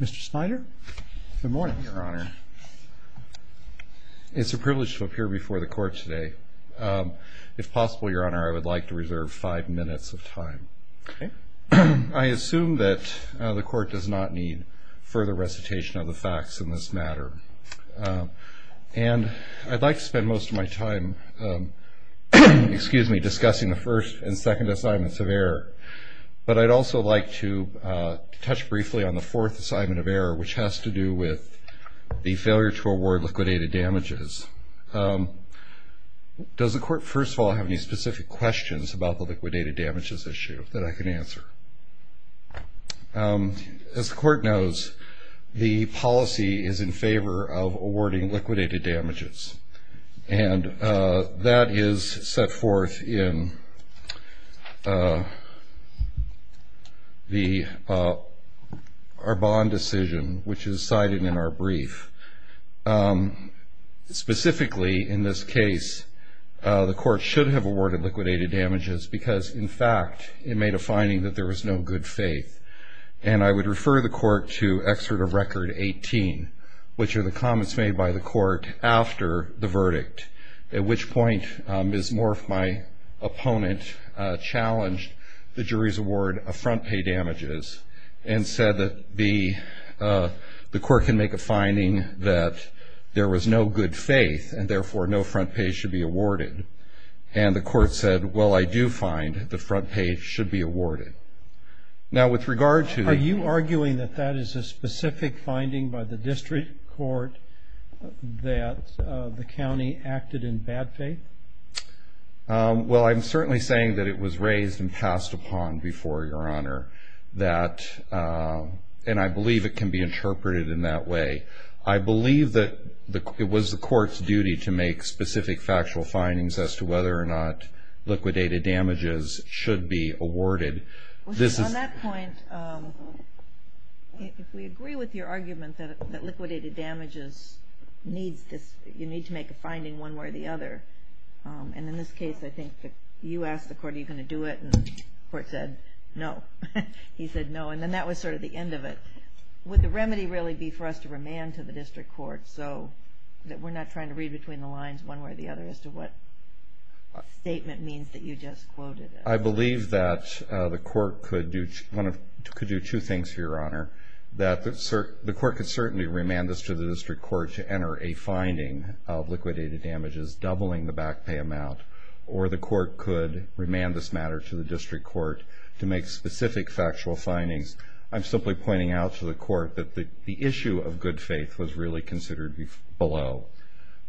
Mr. Snyder. Good morning, Your Honor. It's a privilege to appear before the Court today. If possible, Your Honor, I would like to reserve five minutes of time. Okay. I assume that the Court does not need further recitation of the facts in this matter. And I'd like to spend most of my time discussing the first and second assignments of error, but I'd also like to touch briefly on the fourth assignment of error, which has to do with the failure to award liquidated damages. Does the Court, first of all, have any specific questions about the liquidated damages issue that I can answer? As the Court knows, the policy is in favor of awarding liquidated damages. And that is set forth in our bond decision, which is cited in our brief. Specifically, in this case, the Court should have awarded liquidated damages because, in fact, it made a finding that there was no good faith. And I would refer the Court to Excerpt of Record 18, which are the comments made by the Court after the verdict, at which point Ms. Morf, my opponent, challenged the jury's award of front pay damages and said that the Court can make a finding that there was no good faith and, therefore, no front pay should be awarded. And the Court said, well, I do find the front pay should be awarded. Are you arguing that that is a specific finding by the district court that the county acted in bad faith? Well, I'm certainly saying that it was raised and passed upon before Your Honor. And I believe it can be interpreted in that way. I believe that it was the Court's duty to make specific factual findings as to whether or not liquidated damages should be awarded. On that point, if we agree with your argument that liquidated damages needs this, you need to make a finding one way or the other. And in this case, I think you asked the Court, are you going to do it? And the Court said no. He said no. And then that was sort of the end of it. Would the remedy really be for us to remand to the district court so that we're not trying to read between the lines one way or the other as to what statement means that you just quoted? I believe that the Court could do two things, Your Honor, that the Court could certainly remand this to the district court to enter a finding of liquidated damages doubling the back pay amount, or the Court could remand this matter to the district court to make specific factual findings. I'm simply pointing out to the Court that the issue of good faith was really considered below.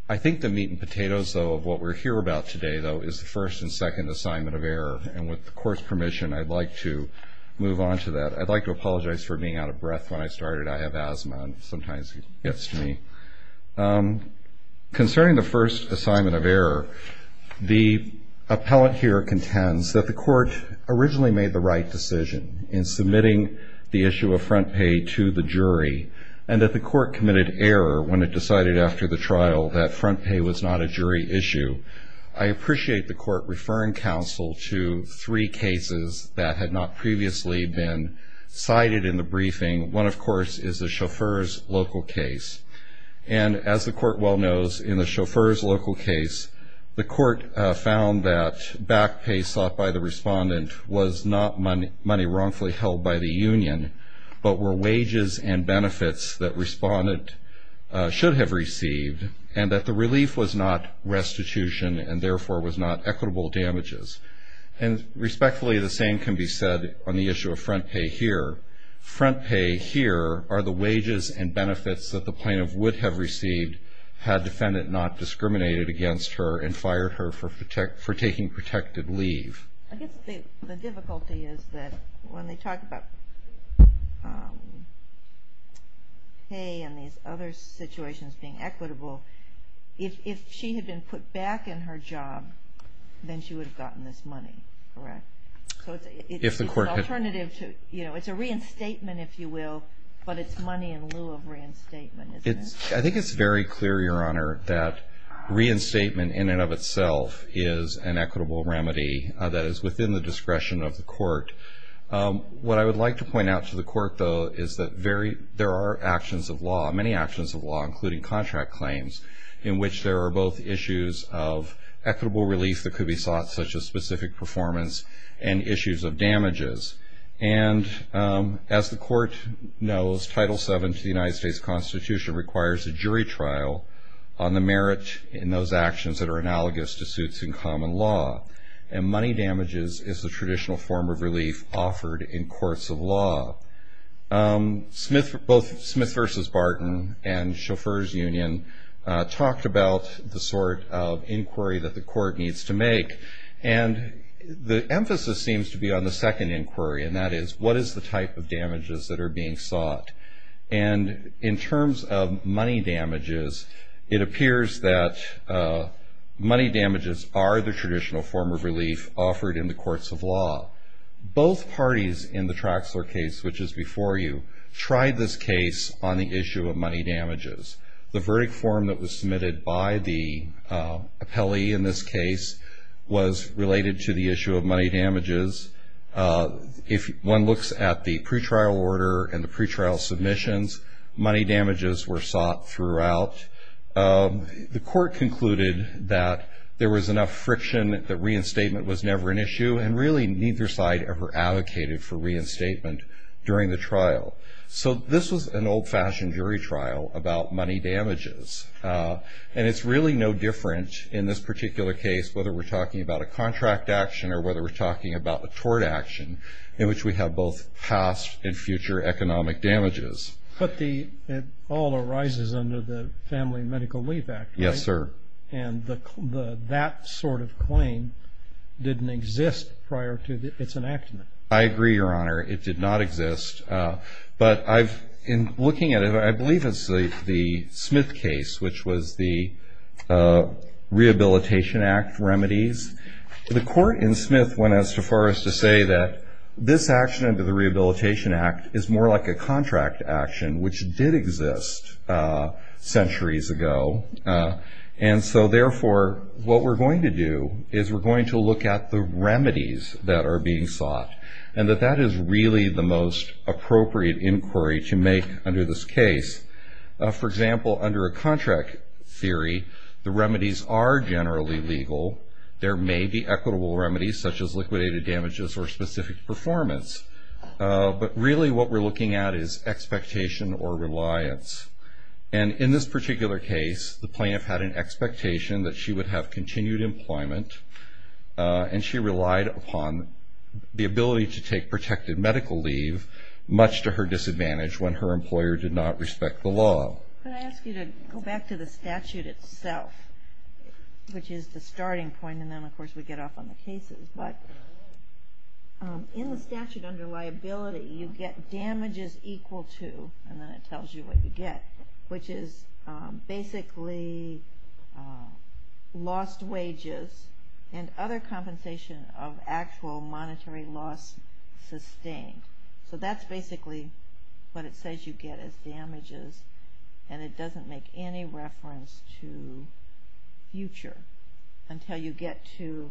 I think the meat and potatoes, though, of what we're here about today, though, is the first and second assignment of error. And with the Court's permission, I'd like to move on to that. I'd like to apologize for being out of breath when I started. I have asthma, and sometimes it gets to me. Concerning the first assignment of error, the appellate here contends that the Court originally made the right decision in submitting the issue of front pay to the jury, and that the Court committed error when it decided after the trial that front pay was not a jury issue. I appreciate the Court referring counsel to three cases that had not previously been cited in the briefing. One, of course, is the chauffeur's local case. And as the Court well knows, in the chauffeur's local case, the Court found that back pay sought by the respondent was not money wrongfully held by the union, but were wages and benefits that respondent should have received, and that the relief was not restitution and, therefore, was not equitable damages. And respectfully, the same can be said on the issue of front pay here. Front pay here are the wages and benefits that the plaintiff would have received had defendant not discriminated against her and fired her for taking protected leave. I guess the difficulty is that when they talk about pay and these other situations being equitable, if she had been put back in her job, then she would have gotten this money, correct? So it's an alternative to, you know, it's a reinstatement, if you will, but it's money in lieu of reinstatement, isn't it? I think it's very clear, Your Honor, that reinstatement in and of itself is an equitable remedy that is within the discretion of the Court. What I would like to point out to the Court, though, is that there are actions of law, many actions of law, including contract claims, in which there are both issues of equitable relief that could be sought, such as specific performance, and issues of damages. And as the Court knows, Title VII to the United States Constitution requires a jury trial on the merit in those actions that are analogous to suits in common law, and money damages is the traditional form of relief offered in courts of law. Both Smith v. Barton and Chauffeur's Union talked about the sort of inquiry that the Court needs to make, and the emphasis seems to be on the second inquiry, and that is what is the type of damages that are being sought. And in terms of money damages, it appears that money damages are the traditional form of relief offered in the courts of law. Both parties in the Traxler case, which is before you, tried this case on the issue of money damages. The verdict form that was submitted by the appellee in this case was related to the issue of money damages. If one looks at the pretrial order and the pretrial submissions, money damages were sought throughout. The Court concluded that there was enough friction that reinstatement was never an issue, and really neither side ever advocated for reinstatement during the trial. So this was an old-fashioned jury trial about money damages, and it's really no different in this particular case, whether we're talking about a contract action or whether we're talking about a tort action, in which we have both past and future economic damages. But it all arises under the Family Medical Relief Act, right? Yes, sir. And that sort of claim didn't exist prior to its enactment. I agree, Your Honor. It did not exist. But in looking at it, I believe it's the Smith case, which was the Rehabilitation Act remedies. The Court in Smith went as far as to say that this action under the Rehabilitation Act is more like a contract action, which did exist centuries ago. And so, therefore, what we're going to do is we're going to look at the remedies that are being sought, and that that is really the most appropriate inquiry to make under this case. For example, under a contract theory, the remedies are generally legal. There may be equitable remedies, such as liquidated damages or specific performance. But really what we're looking at is expectation or reliance. And in this particular case, the plaintiff had an expectation that she would have continued employment, and she relied upon the ability to take protected medical leave, much to her disadvantage when her employer did not respect the law. Could I ask you to go back to the statute itself, which is the starting point, and then, of course, we get off on the cases. But in the statute under liability, you get damages equal to, and then it tells you what you get, which is basically lost wages and other compensation of actual monetary loss sustained. So that's basically what it says you get as damages, and it doesn't make any reference to future until you get to,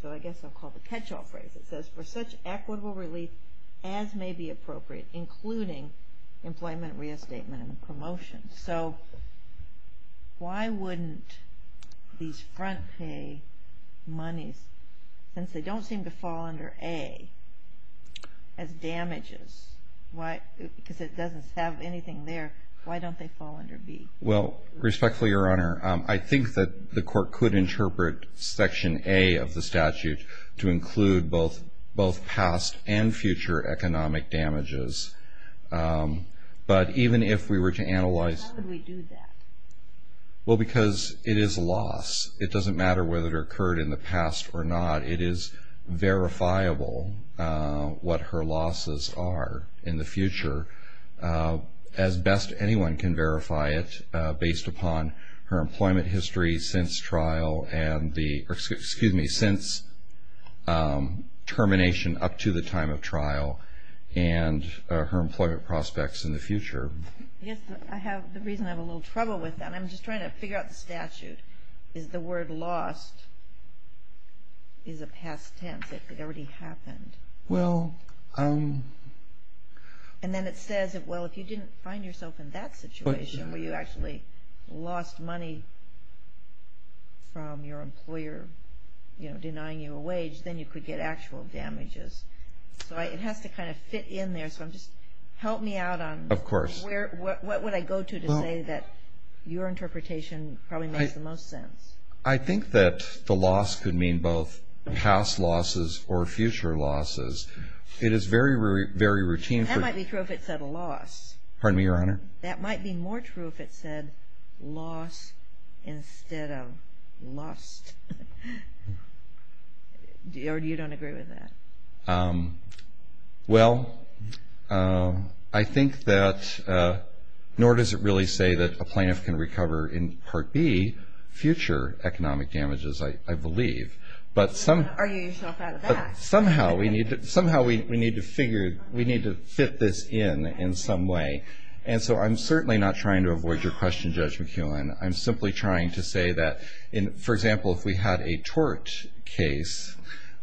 so I guess I'll call it the catch-all phrase. It says, for such equitable relief as may be appropriate, including employment, reestatement, and promotion. So why wouldn't these front pay monies, since they don't seem to fall under A as damages, because it doesn't have anything there, why don't they fall under B? Well, respectfully, Your Honor, I think that the court could interpret Section A of the statute to include both past and future economic damages. But even if we were to analyze- Why would we do that? Well, because it is a loss. It doesn't matter whether it occurred in the past or not. It is verifiable what her losses are in the future as best anyone can verify it, based upon her employment history since trial, excuse me, since termination up to the time of trial, and her employment prospects in the future. I guess the reason I have a little trouble with that, and I'm just trying to figure out the statute, is the word lost is a past tense. It already happened. Well, I'm- And then it says, well, if you didn't find yourself in that situation, where you actually lost money from your employer denying you a wage, then you could get actual damages. So it has to kind of fit in there. So just help me out on- Of course. What would I go to to say that your interpretation probably makes the most sense? I think that the loss could mean both past losses or future losses. It is very, very routine for- That might be true if it said loss. Pardon me, Your Honor? That might be more true if it said loss instead of lost. Or you don't agree with that? Well, I think that- nor does it really say that a plaintiff can recover in Part B future economic damages, I believe. But somehow- Are you yourself out of that? Somehow we need to figure-we need to fit this in in some way. And so I'm certainly not trying to avoid your question, Judge McKeown. I'm simply trying to say that, for example, if we had a tort case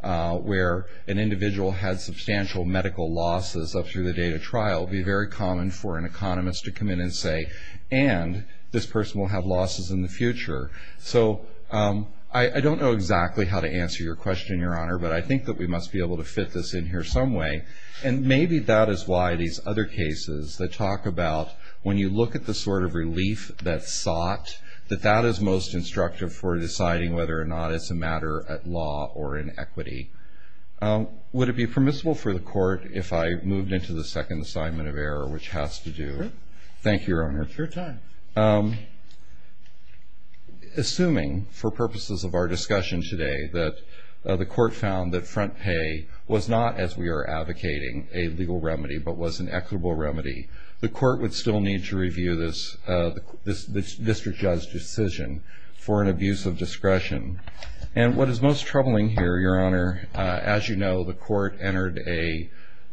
where an individual had substantial medical losses up through the date of trial, it would be very common for an economist to come in and say, and this person will have losses in the future. So I don't know exactly how to answer your question, Your Honor, but I think that we must be able to fit this in here some way. And maybe that is why these other cases that talk about when you look at the sort of relief that's sought, that that is most instructive for deciding whether or not it's a matter at law or in equity. Would it be permissible for the Court, if I moved into the second assignment of error, which has to do- Sure. Thank you, Your Honor. It's your time. Assuming, for purposes of our discussion today, that the Court found that front pay was not, as we are advocating, a legal remedy but was an equitable remedy, the Court would still need to review this district judge decision for an abuse of discretion. And what is most troubling here, Your Honor, as you know, the Court entered a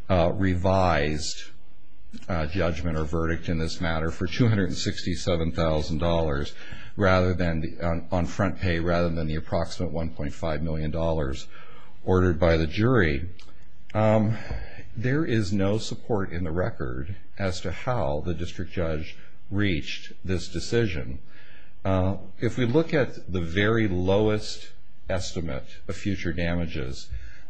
revised judgment or verdict in this matter for $267,000 on front pay rather than the approximate $1.5 million ordered by the jury. There is no support in the record as to how the district judge reached this decision. If we look at the very lowest estimate of future damages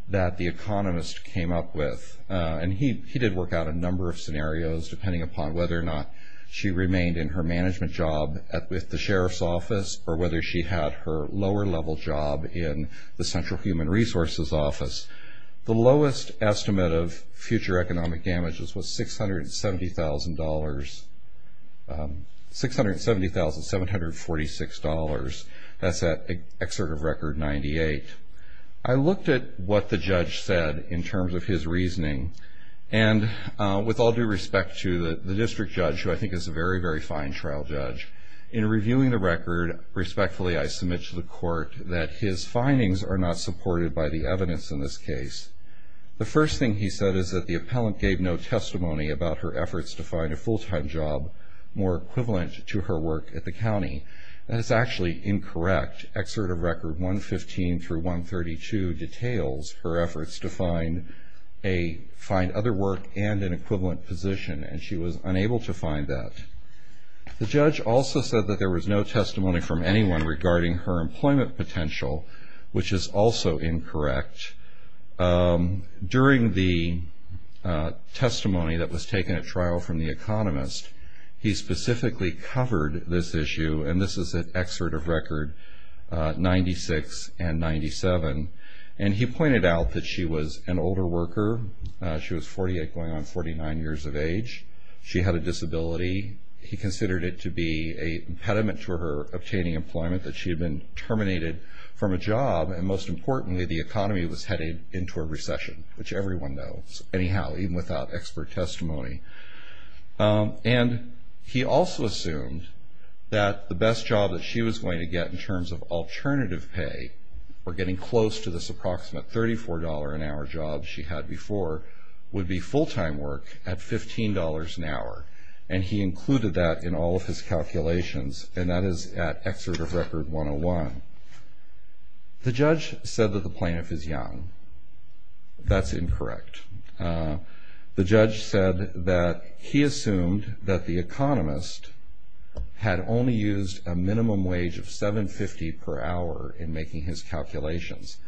that the economist came up with, and he did work out a number of scenarios depending upon whether or not she remained in her management job at the Sheriff's Office or whether she had her lower level job in the Central Human Resources Office, the lowest estimate of future economic damages was $670,746. That's at an excerpt of Record 98. I looked at what the judge said in terms of his reasoning, and with all due respect to the district judge, who I think is a very, very fine trial judge, in reviewing the record, respectfully I submit to the Court that his findings are not supported by the evidence in this case. The first thing he said is that the appellant gave no testimony about her efforts to find a full-time job more equivalent to her work at the county. That is actually incorrect. Excerpt of Record 115-132 details her efforts to find other work and an equivalent position, and she was unable to find that. The judge also said that there was no testimony from anyone regarding her employment potential, which is also incorrect. During the testimony that was taken at trial from the economist, he specifically covered this issue, and this is an excerpt of Record 96 and 97, and he pointed out that she was an older worker. She was 48 going on 49 years of age. She had a disability. He considered it to be a impediment to her obtaining employment, that she had been terminated from a job, and most importantly, the economy was headed into a recession, which everyone knows, anyhow, even without expert testimony. And he also assumed that the best job that she was going to get in terms of alternative pay or getting close to this approximate $34 an hour job she had before would be full-time work at $15 an hour, and he included that in all of his calculations, and that is at Excerpt of Record 101. The judge said that the plaintiff is young. That's incorrect. The judge said that he assumed that the economist had only used a minimum wage of $7.50 per hour in making his calculations.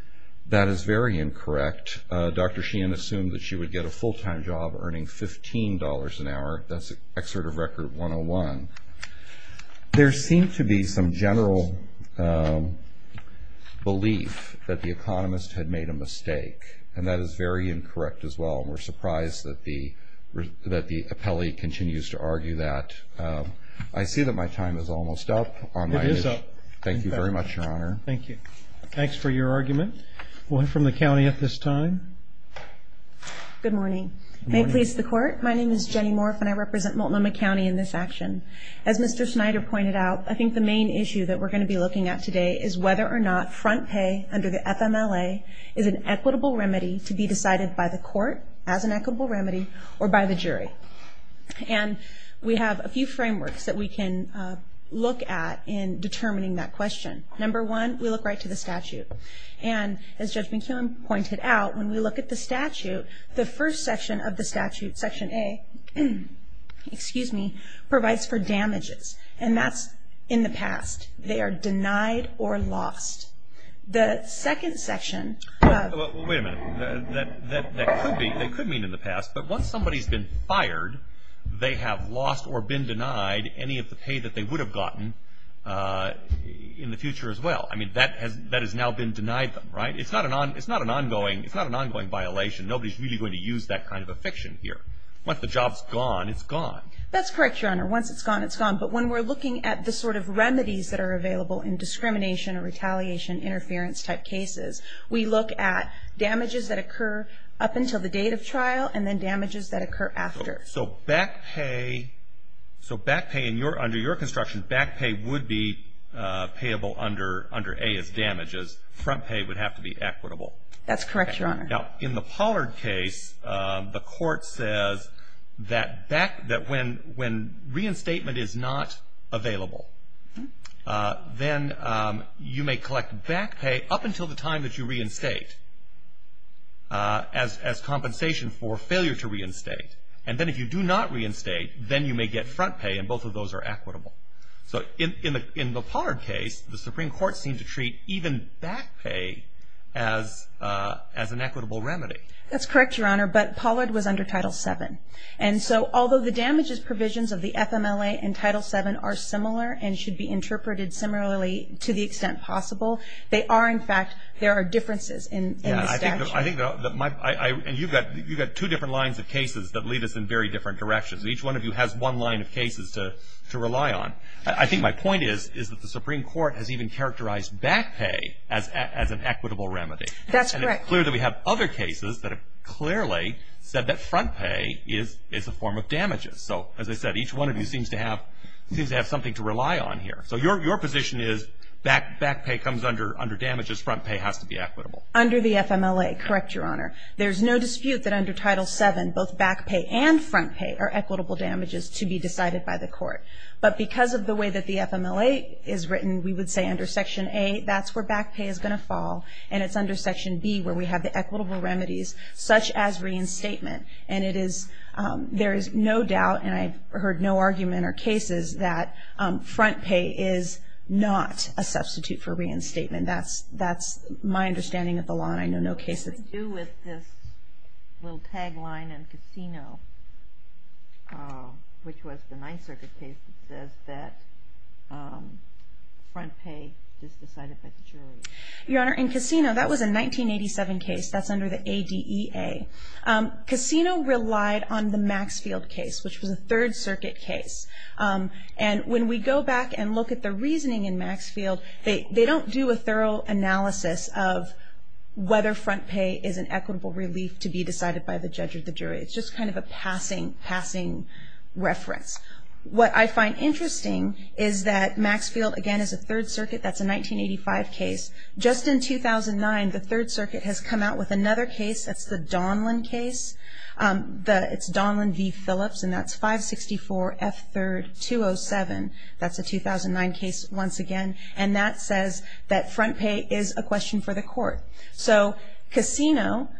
That is very incorrect. Dr. Sheehan assumed that she would get a full-time job earning $15 an hour. That's Excerpt of Record 101. There seemed to be some general belief that the economist had made a mistake, and that is very incorrect as well. We're surprised that the appellee continues to argue that. I see that my time is almost up. It is up. Thank you very much, Your Honor. Thank you. Thanks for your argument. One from the county at this time. Good morning. May it please the Court, my name is Jenny Morf, and I represent Multnomah County in this action. As Mr. Snyder pointed out, I think the main issue that we're going to be looking at today is whether or not front pay under the FMLA is an equitable remedy to be decided by the court as an equitable remedy or by the jury. And we have a few frameworks that we can look at in determining that question. Number one, we look right to the statute. And as Judge McKeown pointed out, when we look at the statute, the first section of the statute, Section A, provides for damages. And that's in the past. They are denied or lost. The second section of... Wait a minute. That could mean in the past, but once somebody's been fired, they have lost or been denied any of the pay that they would have gotten in the future as well. I mean, that has now been denied them, right? It's not an ongoing violation. Nobody's really going to use that kind of a fiction here. Once the job's gone, it's gone. That's correct, Your Honor. Once it's gone, it's gone. But when we're looking at the sort of remedies that are available in discrimination or retaliation, interference-type cases, we look at damages that occur up until the date of trial and then damages that occur after. So back pay under your construction, back pay would be payable under A as damages. Front pay would have to be equitable. That's correct, Your Honor. Now, in the Pollard case, the court says that when reinstatement is not available, then you may collect back pay up until the time that you reinstate as compensation for failure to reinstate. And then if you do not reinstate, then you may get front pay, and both of those are equitable. So in the Pollard case, the Supreme Court seemed to treat even back pay as an equitable remedy. That's correct, Your Honor, but Pollard was under Title VII. And so although the damages provisions of the FMLA and Title VII are similar and should be interpreted similarly to the extent possible, they are, in fact, there are differences in the statute. Yeah, I think that my – and you've got two different lines of cases that lead us in very different directions. Each one of you has one line of cases to rely on. I think my point is that the Supreme Court has even characterized back pay as an equitable remedy. That's correct. And it's clear that we have other cases that have clearly said that front pay is a form of damages. So, as I said, each one of you seems to have something to rely on here. So your position is back pay comes under damages, front pay has to be equitable. Under the FMLA, correct, Your Honor. There's no dispute that under Title VII both back pay and front pay are equitable damages to be decided by the court. But because of the way that the FMLA is written, we would say under Section A, that's where back pay is going to fall. And it's under Section B where we have the equitable remedies, such as reinstatement. And it is – there is no doubt, and I've heard no argument or cases, that front pay is not a substitute for reinstatement. That's my understanding of the law, and I know no cases. What do you do with this little tagline in Cassino, which was the Ninth Circuit case that says that front pay is decided by the jury? Your Honor, in Cassino, that was a 1987 case. That's under the ADEA. Cassino relied on the Maxfield case, which was a Third Circuit case. And when we go back and look at the reasoning in Maxfield, they don't do a thorough analysis of whether front pay is an equitable relief to be decided by the judge or the jury. It's just kind of a passing reference. What I find interesting is that Maxfield, again, is a Third Circuit. That's a 1985 case. Just in 2009, the Third Circuit has come out with another case. That's the Donlan case. It's Donlan v. Phillips, and that's 564F3-207. That's a 2009 case once again, and that says that front pay is a question for the court. So Cassino,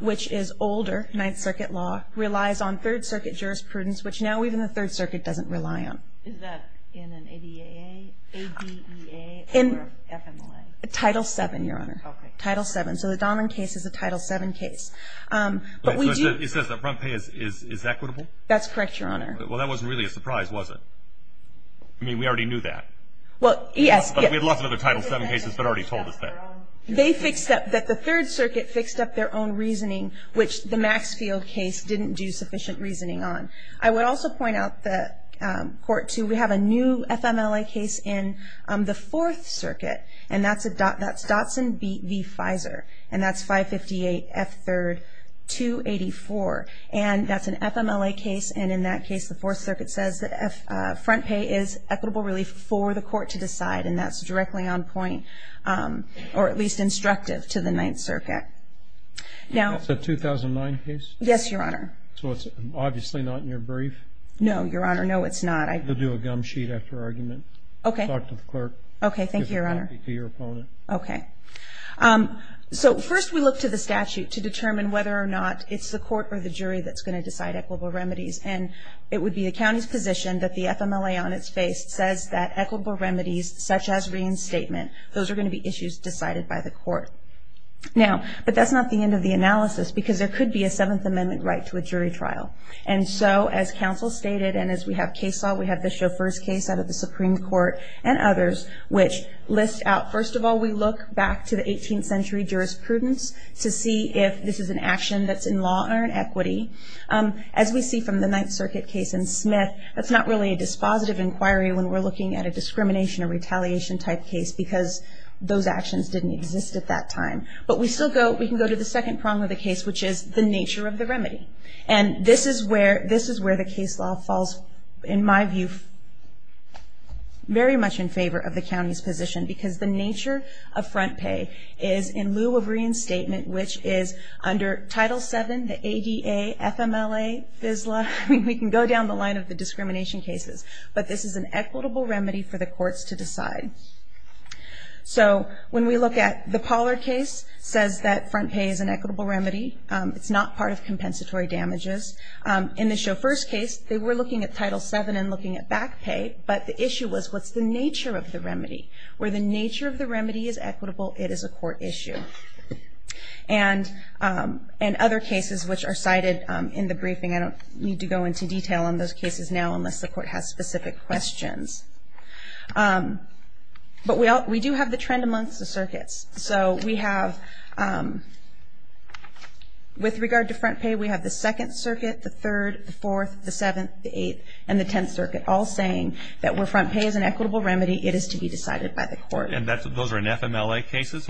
which is older Ninth Circuit law, relies on Third Circuit jurisprudence, which now even the Third Circuit doesn't rely on. Is that in an ADEA or FMLA? Title VII, Your Honor. Okay. Title VII. So the Donlan case is a Title VII case. It says that front pay is equitable? That's correct, Your Honor. Well, that wasn't really a surprise, was it? I mean, we already knew that. Well, yes. But we had lots of other Title VII cases that already told us that. They fixed up, that the Third Circuit fixed up their own reasoning, which the Maxfield case didn't do sufficient reasoning on. I would also point out that Court 2, we have a new FMLA case in the Fourth Circuit, and that's Dotson v. Fizer, and that's 558F3-284. And that's an FMLA case, and in that case, the Fourth Circuit says that front pay is equitable relief for the court to decide, and that's directly on point or at least instructive to the Ninth Circuit. That's a 2009 case? Yes, Your Honor. So it's obviously not in your brief? No, Your Honor, no, it's not. We'll do a gum sheet after argument. Okay. Talk to the clerk. Okay, thank you, Your Honor. Give a copy to your opponent. Okay. So first we look to the statute to determine whether or not it's the court or the jury that's going to decide equitable remedies, and it would be the county's position that the FMLA on its face says that equitable remedies such as reinstatement, those are going to be issues decided by the court. Now, but that's not the end of the analysis, because there could be a Seventh Amendment right to a jury trial. And so as counsel stated and as we have case law, we have the Chauffeur's case out of the Supreme Court and others, which list out, first of all, we look back to the 18th century jurisprudence to see if this is an action that's in law or in equity. As we see from the Ninth Circuit case in Smith, that's not really a dispositive inquiry when we're looking at a discrimination or retaliation type case, because those actions didn't exist at that time. But we still go, we can go to the second prong of the case, which is the nature of the remedy. And this is where the case law falls, in my view, very much in favor of the county's position, because the nature of front pay is in lieu of reinstatement, which is under Title VII, the ADA, FMLA, FSLA. We can go down the line of the discrimination cases, but this is an equitable remedy for the courts to decide. So when we look at the Pollard case, it says that front pay is an equitable remedy. It's not part of compensatory damages. In the Chauffeur's case, they were looking at Title VII and looking at back pay, but the issue was, what's the nature of the remedy? Where the nature of the remedy is equitable, it is a court issue. And other cases which are cited in the briefing, I don't need to go into detail on those cases now, unless the court has specific questions. But we do have the trend amongst the circuits. So we have, with regard to front pay, we have the 2nd Circuit, the 3rd, the 4th, the 7th, the 8th, and the 10th Circuit all saying that where front pay is an equitable remedy, it is to be decided by the court. And those are in FMLA cases?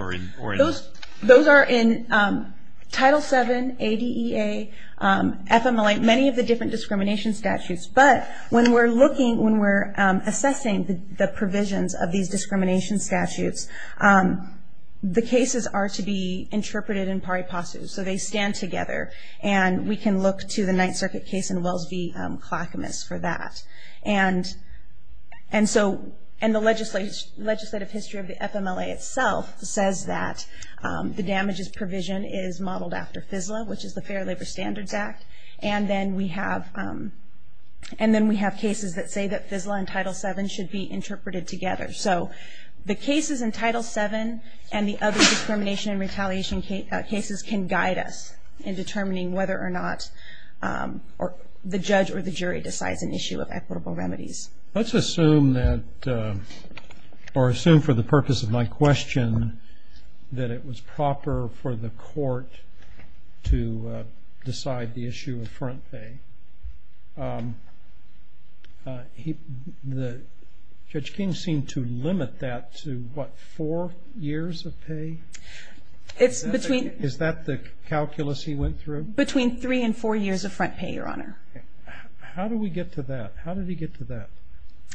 Those are in Title VII, ADA, FMLA, many of the different discrimination statutes. But when we're looking, when we're assessing the provisions of these discrimination statutes, the cases are to be interpreted in pari passus. So they stand together. And we can look to the 9th Circuit case in Wells v. Clackamas for that. And the legislative history of the FMLA itself says that the damages provision is modeled after FSLA, which is the Fair Labor Standards Act. And then we have cases that say that FSLA and Title VII should be interpreted together. So the cases in Title VII and the other discrimination and retaliation cases can guide us in determining whether or not the judge or the jury decides an issue of equitable remedies. Let's assume that, or assume for the purpose of my question, that it was proper for the court to decide the issue of front pay. Judge King seemed to limit that to, what, four years of pay? Is that the calculus he went through? Between three and four years of front pay, Your Honor. How do we get to that? How did he get to that?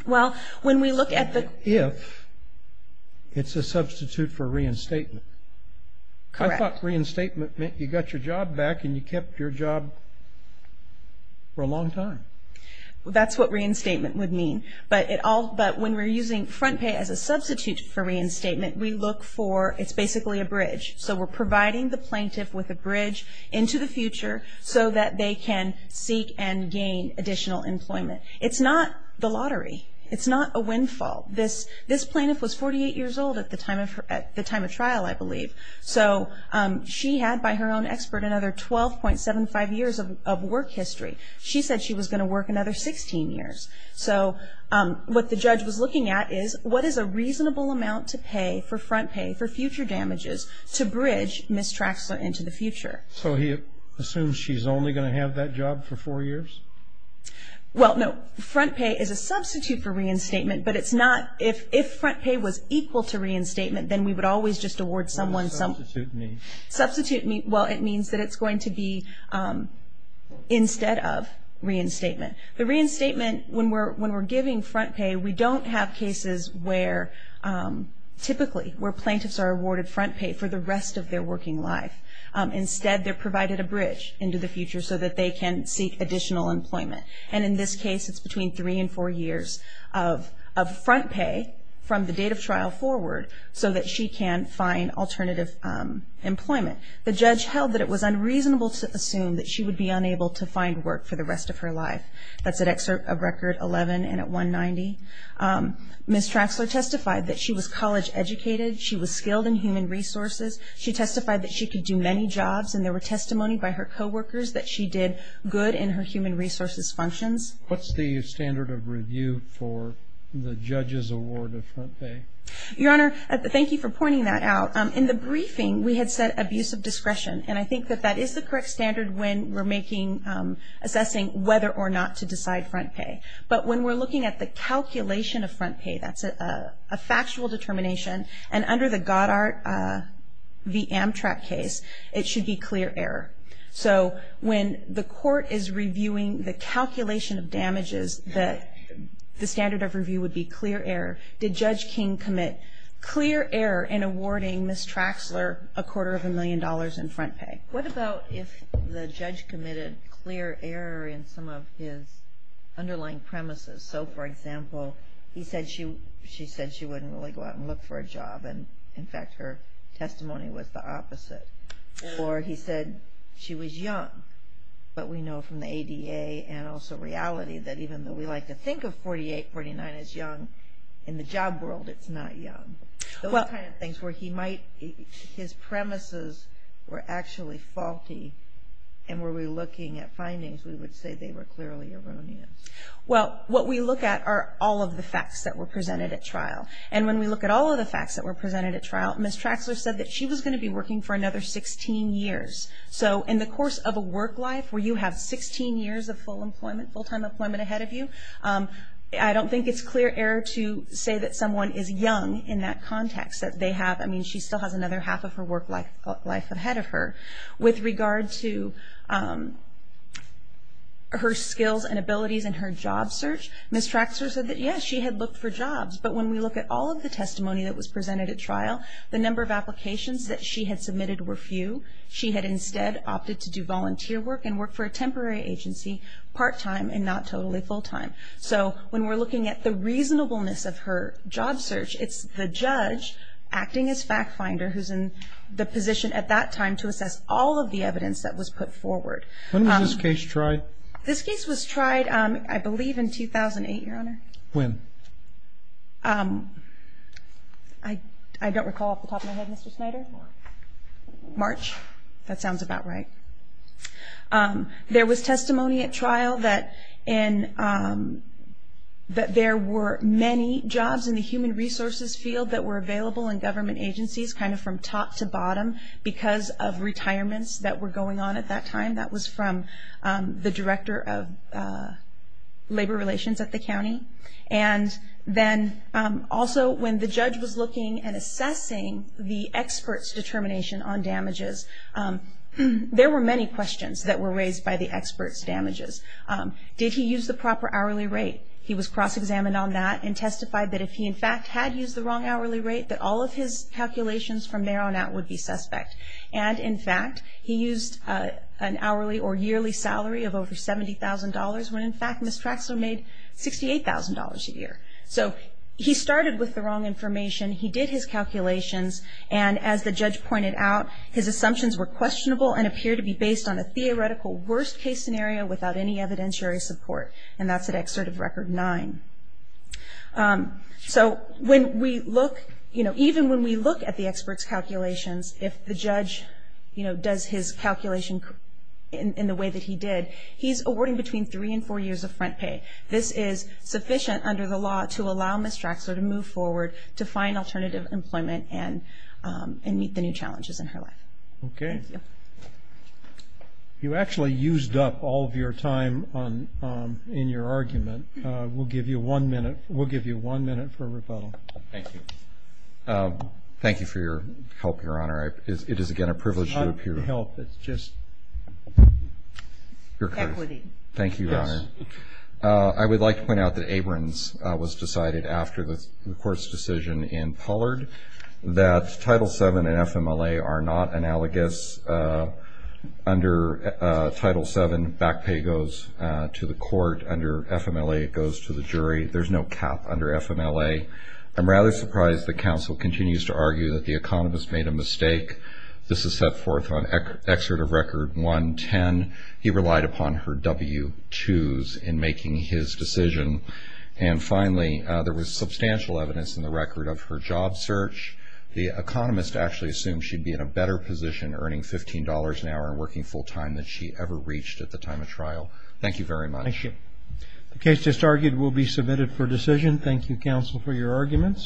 Well, when we look at the If it's a substitute for reinstatement. Correct. I thought reinstatement meant you got your job back and you kept your job for a long time. That's what reinstatement would mean. But when we're using front pay as a substitute for reinstatement, we look for, it's basically a bridge. So we're providing the plaintiff with a bridge into the future so that they can seek and gain additional employment. It's not the lottery. It's not a windfall. This plaintiff was 48 years old at the time of trial, I believe. So she had, by her own expert, another 12.75 years of work history. She said she was going to work another 16 years. So what the judge was looking at is what is a reasonable amount to pay for front pay, for future damages, to bridge Ms. Traxler into the future? So he assumes she's only going to have that job for four years? Well, no. Front pay is a substitute for reinstatement, but it's not. If front pay was equal to reinstatement, then we would always just award someone something. What does substitute mean? Substitute, well, it means that it's going to be instead of reinstatement. The reinstatement, when we're giving front pay, we don't have cases where, typically, where plaintiffs are awarded front pay for the rest of their working life. Instead, they're provided a bridge into the future so that they can seek additional employment. And in this case, it's between three and four years of front pay from the date of trial forward so that she can find alternative employment. The judge held that it was unreasonable to assume that she would be unable to find work for the rest of her life. That's at record 11 and at 190. Ms. Traxler testified that she was college educated. She was skilled in human resources. She testified that she could do many jobs, and there were testimony by her coworkers that she did good in her human resources functions. What's the standard of review for the judge's award of front pay? Your Honor, thank you for pointing that out. In the briefing, we had said abuse of discretion, and I think that that is the correct standard when we're assessing whether or not to decide front pay. But when we're looking at the calculation of front pay, that's a factual determination, and under the Goddard v. Amtrak case, it should be clear error. So when the court is reviewing the calculation of damages, the standard of review would be clear error. Did Judge King commit clear error in awarding Ms. Traxler a quarter of a million dollars in front pay? What about if the judge committed clear error in some of his underlying premises? So, for example, he said she wouldn't really go out and look for a job, and, in fact, her testimony was the opposite. Or he said she was young, but we know from the ADA and also reality that even though we like to think of 48, 49 as young, in the job world, it's not young. Those kind of things where his premises were actually faulty, and were we looking at findings, we would say they were clearly erroneous. Well, what we look at are all of the facts that were presented at trial. And when we look at all of the facts that were presented at trial, Ms. Traxler said that she was going to be working for another 16 years. So in the course of a work life where you have 16 years of full-time employment ahead of you, I don't think it's clear error to say that someone is young in that context. I mean, she still has another half of her work life ahead of her. With regard to her skills and abilities and her job search, Ms. Traxler said that, yes, she had looked for jobs, but when we look at all of the testimony that was presented at trial, the number of applications that she had submitted were few. She had instead opted to do volunteer work and work for a temporary agency, part-time and not totally full-time. So when we're looking at the reasonableness of her job search, it's the judge acting as fact finder who's in the position at that time to assess all of the evidence that was put forward. When was this case tried? This case was tried, I believe, in 2008, Your Honor. When? I don't recall off the top of my head, Mr. Snyder. March. March? That sounds about right. There was testimony at trial that there were many jobs in the human resources field that were available in government agencies kind of from top to bottom because of retirements that were going on at that time. That was from the director of labor relations at the county. And then also when the judge was looking and assessing the expert's determination on damages, there were many questions that were raised by the expert's damages. Did he use the proper hourly rate? He was cross-examined on that and testified that if he, in fact, had used the wrong hourly rate, that all of his calculations from there on out would be suspect. And, in fact, he used an hourly or yearly salary of over $70,000 when, in fact, Ms. Traxler made $68,000 a year. So he started with the wrong information, he did his calculations, and as the judge pointed out, his assumptions were questionable and appeared to be based on a theoretical worst-case scenario without any evidentiary support. And that's at Excerpt of Record 9. So even when we look at the expert's calculations, if the judge does his calculation in the way that he did, he's awarding between three and four years of front pay. This is sufficient under the law to allow Ms. Traxler to move forward to find alternative employment and meet the new challenges in her life. Okay. You actually used up all of your time in your argument. We'll give you one minute for rebuttal. Thank you. Thank you for your help, Your Honor. It is, again, a privilege to appear. It's not help, it's just equity. Thank you, Your Honor. I would like to point out that Abrams was decided after the court's decision in Pollard that Title VII and FMLA are not analogous. Under Title VII, back pay goes to the court. Under FMLA, it goes to the jury. There's no cap under FMLA. I'm rather surprised that counsel continues to argue that the economist made a mistake. This is set forth on Excerpt of Record 110. He relied upon her W-2s in making his decision. Finally, there was substantial evidence in the record of her job search. The economist actually assumed she'd be in a better position earning $15 an hour and working full time than she ever reached at the time of trial. Thank you very much. Thank you. The case just argued will be submitted for decision. Thank you, counsel, for your arguments.